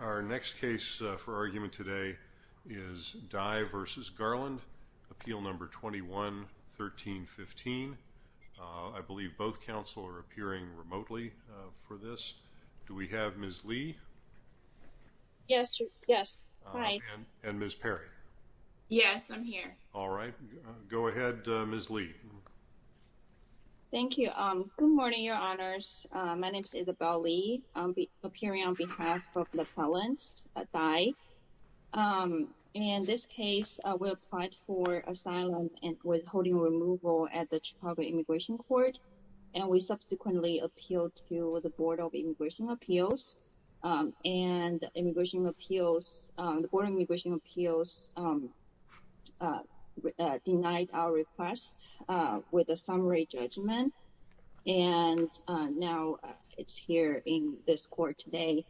Our next case for argument today is Dai v. Garland, Appeal No. 21-1315. I believe both counsel are appearing remotely for this. Do we have Ms. Li? Yes, yes. Hi. And Ms. Perry? Yes, I'm here. All right. Go ahead, Ms. Li. Thank you. Good morning, Your Honors. My name is Isabel Li. I'm appearing on behalf of the felons, Dai. In this case, we applied for asylum and withholding removal at the Chicago Immigration Court. And we subsequently appealed to the Board of Immigration Appeals. And the Board of Immigration Appeals denied our request with a summary judgment. And now it's here in this court today.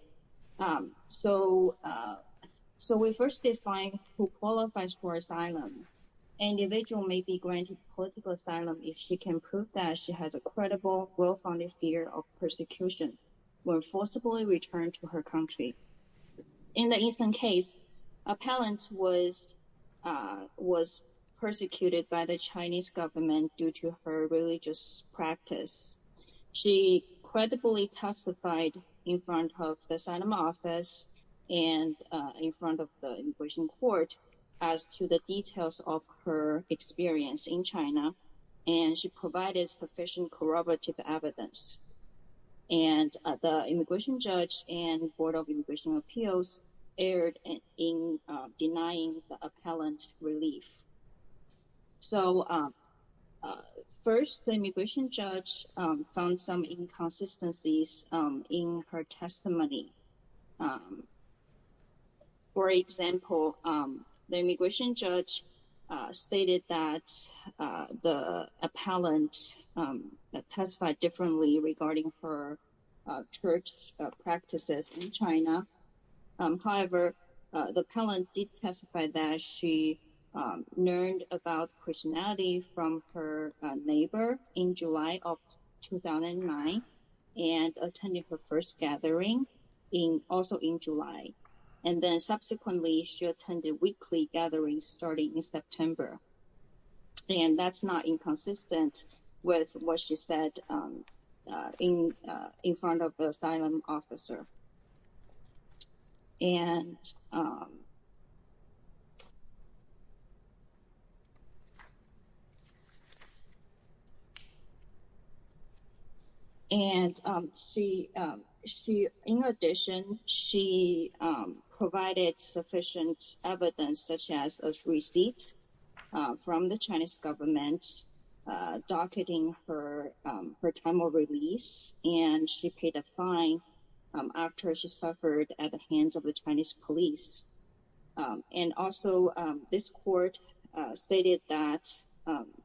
So we first define who qualifies for asylum. Individual may be granted political asylum if she can prove that she has a credible, well-founded fear of persecution or forcibly return to her country. In the Eastern case, a felon was persecuted by the Chinese government due to her religious practice. She credibly testified in front of the asylum office and in front of the immigration court as to the details of her experience in China. And she provided sufficient corroborative evidence. And the immigration judge and Board of Immigration Appeals erred in denying the First, the immigration judge found some inconsistencies in her testimony. For example, the immigration judge stated that the appellant testified differently regarding her church practices in China. However, the appellant did testify that she learned about Christianity from her neighbor in July of 2009, and attended her first gathering in also in July. And then subsequently, she attended weekly gatherings starting in September. And that's not inconsistent with what she said in front of the asylum officer. And she, she, in addition, she provided sufficient evidence such as a receipt from the her time of release, and she paid a fine after she suffered at the hands of the Chinese police. And also, this court stated that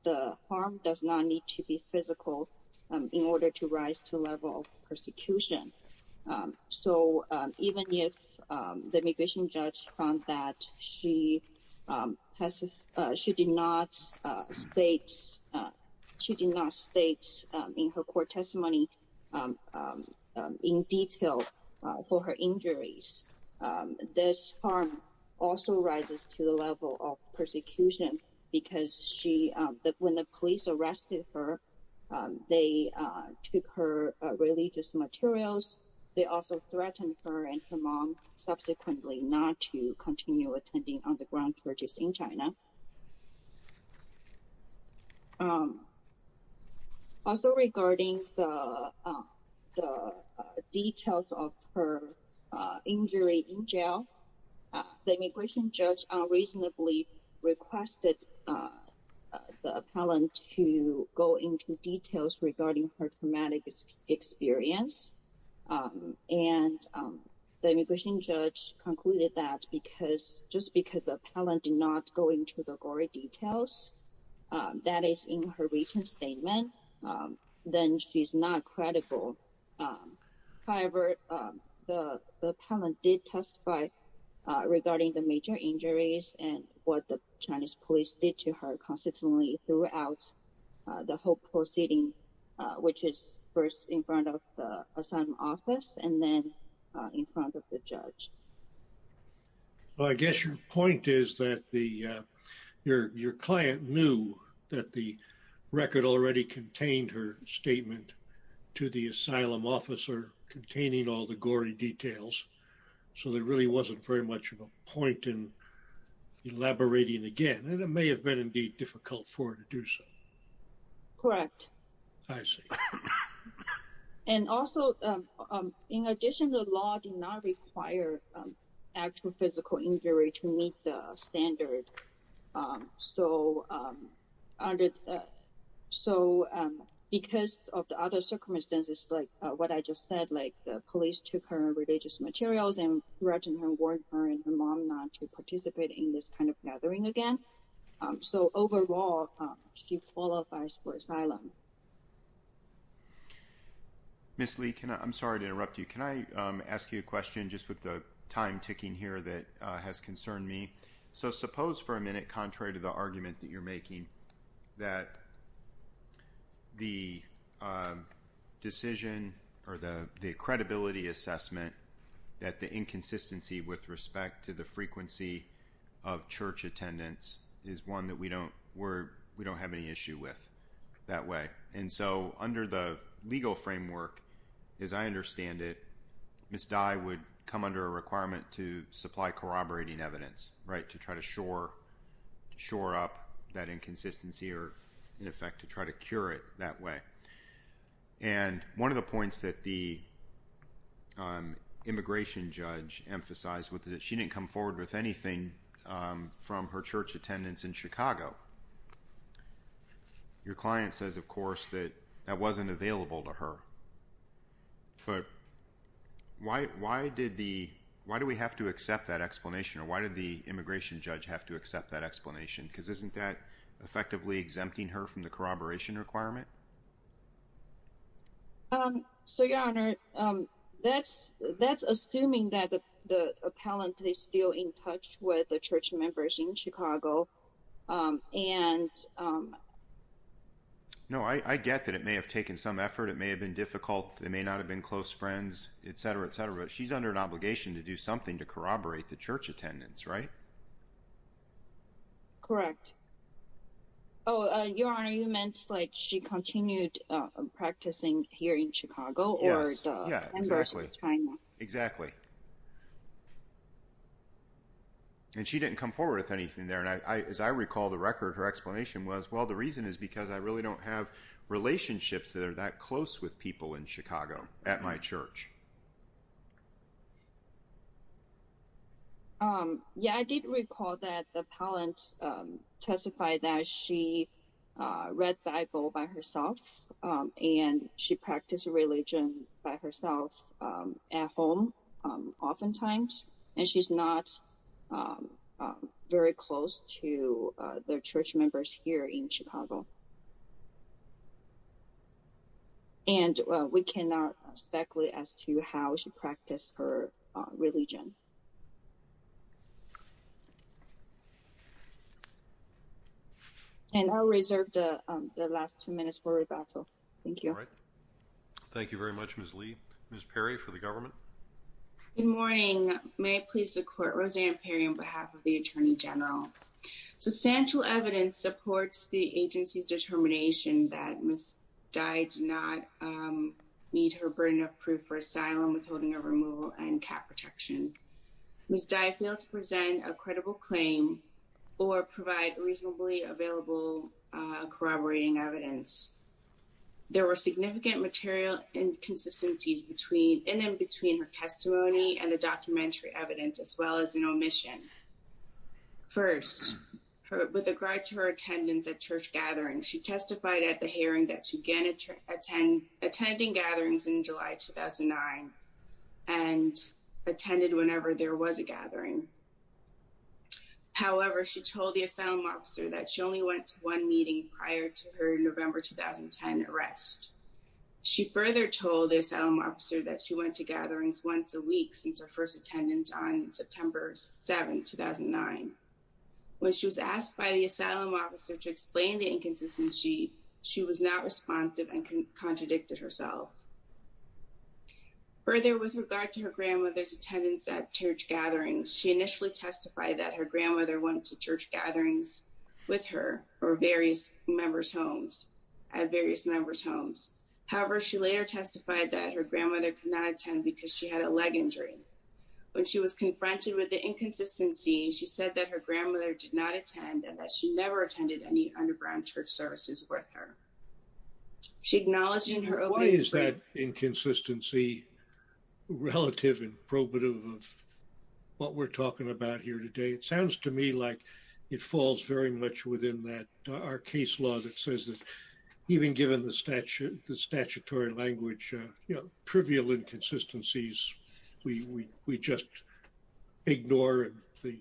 the harm does not need to be physical in order to rise to level of persecution. So even if the immigration judge found that she has, she did not state, she did not state in her court testimony, in detail, for her injuries. This harm also rises to the level of persecution, because she that when the police arrested her, they took her religious materials. They also threatened her and her mom subsequently not to continue attending underground churches in China. Also regarding the details of her injury in jail, the immigration judge unreasonably requested the appellant to go into details regarding her traumatic experience. And the immigration judge concluded that because just because the immigration judge did not go into the gory details, that is in her written statement, then she's not credible. However, the appellant did testify regarding the major injuries and what the Chinese police did to her consistently throughout the whole proceeding, which is first in front of the asylum office and then in front of the judge. I guess your point is that your client knew that the record already contained her statement to the asylum officer containing all the gory details. So there really wasn't very much of a point in elaborating again, and it may have been indeed difficult for her to do so. Correct. I see. And also, in addition, the law did not require actual physical injury to meet the standard. So because of the other circumstances, like what I just said, like the police took her religious materials and threatened her and warned her and her mom not to participate in this kind of gathering again. So overall, she qualifies for asylum. Ms. Lee, I'm sorry to interrupt you. Can I ask you a question just with the time ticking here that has concerned me? So suppose for a minute, contrary to the argument that you're making, that the decision or the credibility assessment, that the inconsistency with respect to the frequency of church attendance is one that we don't have any issue with that way. And so under the legal framework, as I understand it, Ms. Dye would come under a requirement to supply corroborating evidence, right, to try to shore up that inconsistency or, in effect, to try to cure it that way. And one of the points that the immigration judge emphasized was that she didn't come forward with anything from her church attendance in Chicago. Your client says, of course, that that wasn't available to her. But why do we have to accept that explanation? Or why did the immigration judge have to accept that explanation? Because isn't that effectively exempting her from the corroboration requirement? So, Your Honor, that's assuming that the appellant is still in Chicago. And... No, I get that it may have taken some effort. It may have been difficult. They may not have been close friends, etc., etc. But she's under an obligation to do something to corroborate the church attendance, right? Correct. Oh, Your Honor, you meant like she continued practicing here in Chicago? Yes. Yeah, exactly. Exactly. And she didn't come forward with anything there. And as I recall, the record, her explanation was, well, the reason is because I really don't have relationships that are that close with people in Chicago at my church. Yeah, I did recall that the appellant testified that she read the Bible by herself. And she practiced religion by herself at home, oftentimes. And she's not very close to the church members here in Chicago. And we cannot speculate as to how she practiced her religion. And I'll reserve the last two minutes for rebuttal. Thank you. All right. Thank you very much, Ms. Lee. Ms. Perry for the government. Good morning. May it please the court, Rosanna Perry on behalf of the Attorney General. Substantial evidence supports the agency's determination that Ms. Dye did not meet her burden of proof for asylum withholding a removal and cap protection. Ms. Dye failed to present a credible claim or provide reasonably available corroborating evidence. There were significant material inconsistencies in and between her testimony and the documentary evidence as well as an omission. First, with regard to her attendance at church gatherings, she testified at the hearing that she began attending gatherings in July 2009, and attended whenever there was a gathering. However, she told the asylum officer that she only went to one meeting prior to her November 2010 arrest. She further told the asylum officer that she went to gatherings once a week since her first attendance on September 7, 2009. When she was asked by the asylum officer to explain the inconsistency, she was not responsive and contradicted herself. Further, with regard to her grandmother's attendance at church gatherings, she initially testified that her grandmother went to church gatherings with her or various members homes, at various members homes. However, she later testified that her grandmother could not attend because she had a leg injury. When she was confronted with the inconsistency, she said that her grandmother did not attend and that she never attended any underground church services with her. She acknowledged in her opening... Why is that inconsistency relative and probative of what we're talking about here today? It sounds to me like it falls very much within that our case law that says that even given the statute, the statutory language, you know, trivial inconsistencies, we just ignore and the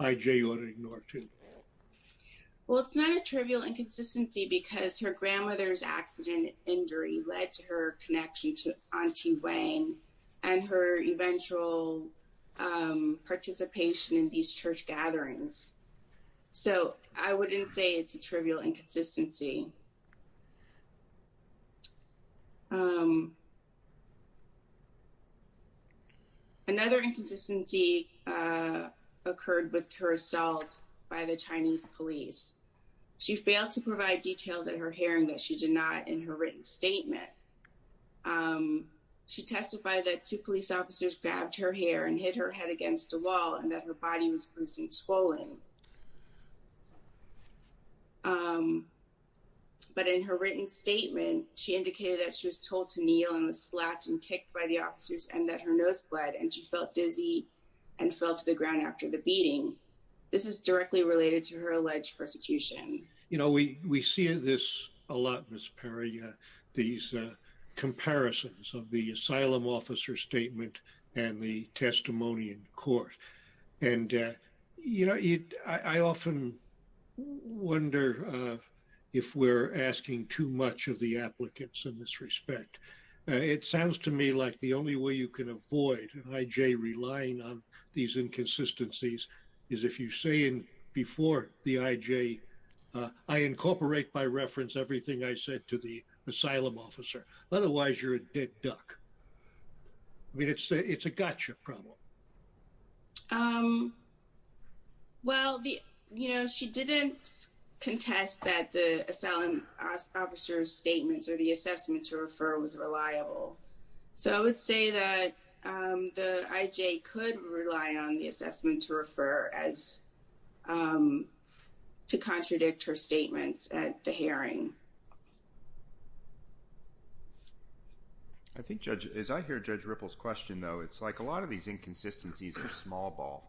IJ ought to ignore too. Well, it's not a trivial inconsistency because her grandmother's accident injury led to her connection to Auntie Wang and her eventual participation in these church gatherings. So I wouldn't say it's a trivial inconsistency. Another inconsistency occurred with her assault by the Chinese police. She failed to provide details at her hearing that she did not in her written statement. She testified that two police officers grabbed her hair and hit her head against the wall and that her body was bruised and swollen. But in her written statement, she indicated that she was told to kneel and was slapped and kicked by the officers and that her nose bled and she felt dizzy and fell to the ground after the beating. This is directly related to her alleged persecution. You know, we see this a lot, Ms. Perry, these comparisons of the asylum officer statement and the testimony in court. And, you know, I often wonder if we're asking too much of the applicants in this respect. It sounds to me like the only way you can avoid an IJ relying on these inconsistencies is if you say before the IJ, I incorporate by reference everything I said to the asylum officer. Otherwise, you're a dead duck. I mean, it's a gotcha problem. Well, you know, she didn't contest that the asylum officer's statements or the assessment to refer was reliable. So I would say that the IJ could rely on the assessment to refer as to contradict her statements at the hearing. I think, Judge, as I hear Judge Ripple's question, though, it's like a lot of these inconsistencies are small ball.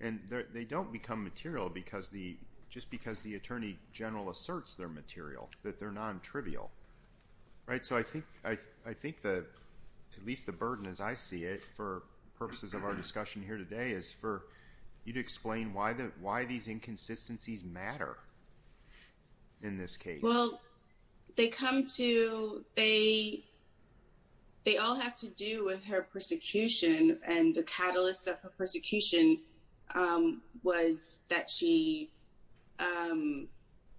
And they don't become material because the, just because the Attorney General asserts their material, that they're non-trivial. Right? So I think that at least the burden, as I see it, for purposes of our discussion here today is for you to explain why these inconsistencies matter in this case. Well, they come to, they all have to do with her persecution. And the catalyst of her persecution was that she,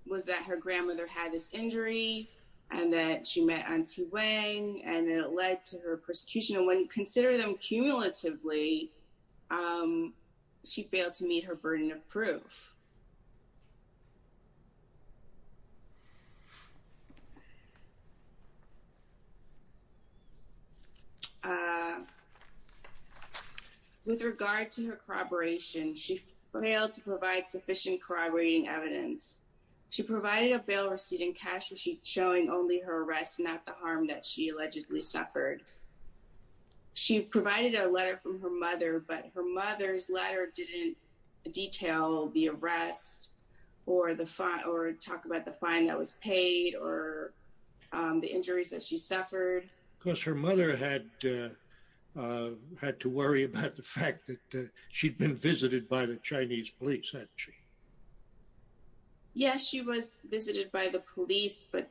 was that her grandmother had this injury, and that she met Aunty Wang, and then it led to her persecution. And when you consider them cumulatively, she failed to meet her burden of proof. With regard to her corroboration, she failed to provide sufficient corroborating evidence. She provided a bail receipt and cash receipt showing only her arrest, not the harm that she allegedly suffered. She provided a letter from her mother, but her mother's letter didn't detail the arrest, or the fine, or talk about the fine that was paid, or the injuries that she suffered. Because her mother had, had to worry about the fact that she'd been visited by the Chinese police, hadn't she? Yeah, she was visited by the police, but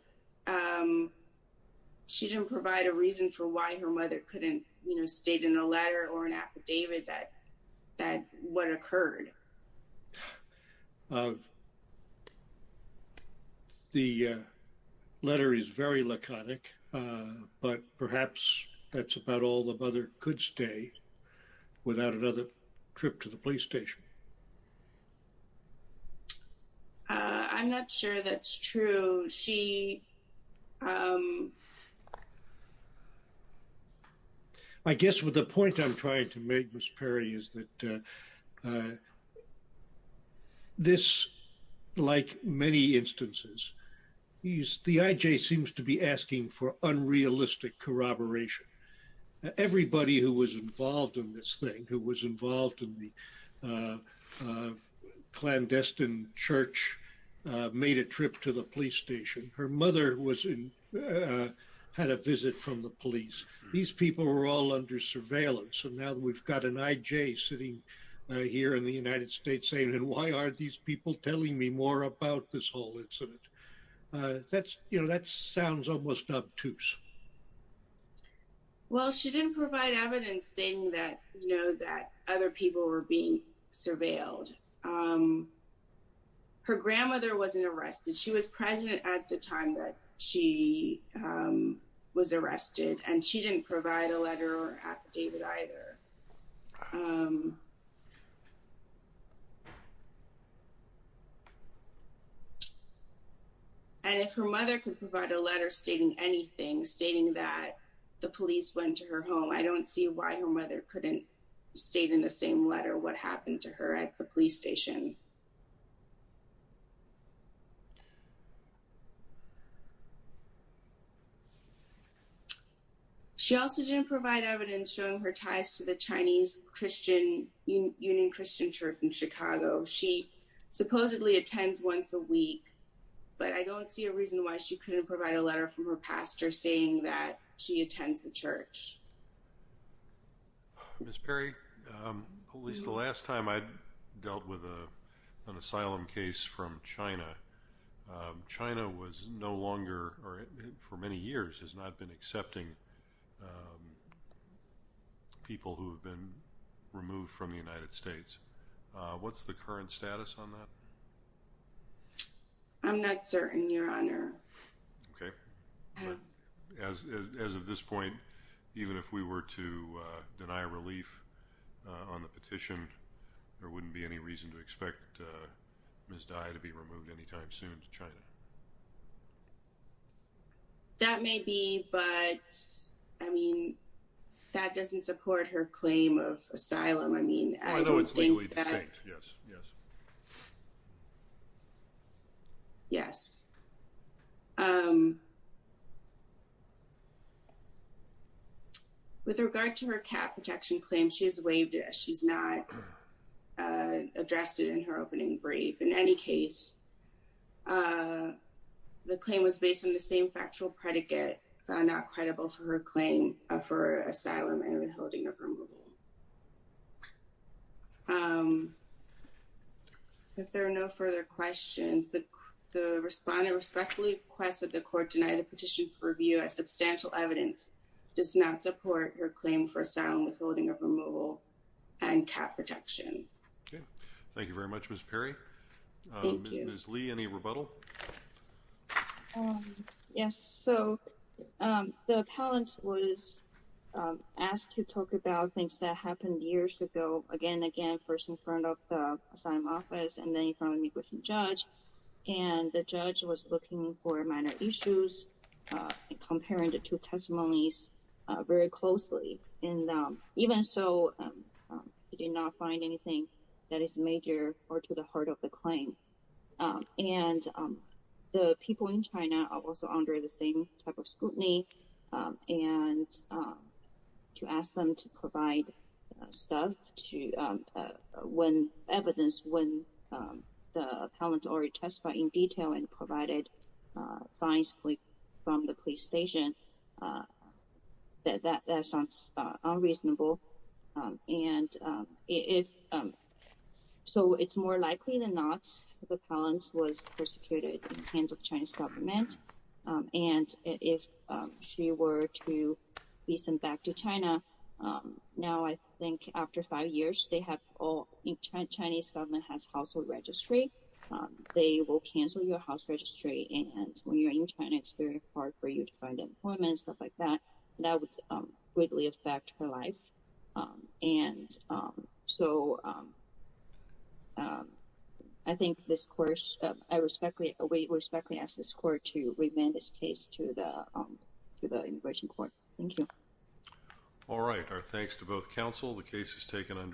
she didn't provide a reason for why her mother couldn't, you know, stayed in a letter or an affidavit that, that, what occurred. The letter is very laconic, but perhaps that's about all the evidence that she provided that her mother could stay without another trip to the police station. I'm not sure that's true. She, um... I guess what the point I'm trying to make, Miss Perry, is that this, like many instances, the IJ seems to be asking for help. Anybody who was involved in this thing, who was involved in the clandestine church made a trip to the police station. Her mother was in, had a visit from the police. These people were all under surveillance. And now we've got an IJ sitting here in the United States saying, and why aren't these people telling me more about this whole incident? That's, you know, that sounds almost obtuse. Well, she didn't provide evidence stating that, you know, that other people were being surveilled. Her grandmother wasn't arrested. She was present at the time that she was arrested and she didn't provide a letter or affidavit either. And if her mother could provide a letter stating anything, stating that the police went to her home, I don't see why her mother couldn't state in the same letter what happened to her at the police station. She also didn't provide evidence showing her ties to the Chinese Christian, Union Christian Church in Chicago. She supposedly attends once a week, but I don't see a reason why she couldn't provide a letter from her pastor saying that she attends the church. Ms. Perry, at least the last time I dealt with a police officer an asylum case from China, China was no longer, or for many years, has not been accepting people who have been removed from the United States. What's the current status on that? I'm not certain, Your Honor. Okay. As of this point, even if we were to deny relief on the Ms. Di to be removed anytime soon to China. That may be, but I mean, that doesn't support her claim of asylum. I mean, I know it's legally distinct. Yes. Yes. Yes. With regard to her cat protection claim, she has waived it. She's not addressed it in her opening brief. In any case, the claim was based on the same factual predicate, not credible for her claim for asylum and withholding of removal. If there are no further questions, the respondent respectfully requests that the court deny the petition for review as substantial evidence does not support her claim for asylum withholding of removal and cat protection. Okay. Thank you very much, Ms. Perry. Ms. Lee, any rebuttal? Yes. So the appellant was asked to talk about things that happened years ago. Again, again, first in front of the asylum office and then in front of an immigration judge. And the judge was looking for minor issues and comparing the two testimonies very closely. And even so, he did not find anything that is major or to the heart of the claim. And the people in China are also under the same type of scrutiny. And to ask them to provide evidence when the appellant already testified in detail and provided fines from the police station, that sounds unreasonable. So it's more likely than not the appellant was persecuted in the hands of the Chinese government. And if she were to be sent back to China, now I think after five years, the Chinese government has household registry. They will cancel your house registry. And when you're in China, it's very hard for you to find employment and stuff like that. That would greatly affect her life. And so I think this court, I respectfully ask this court to remand this case to the immigration court. Thank you. All right. Our thanks to both counsel.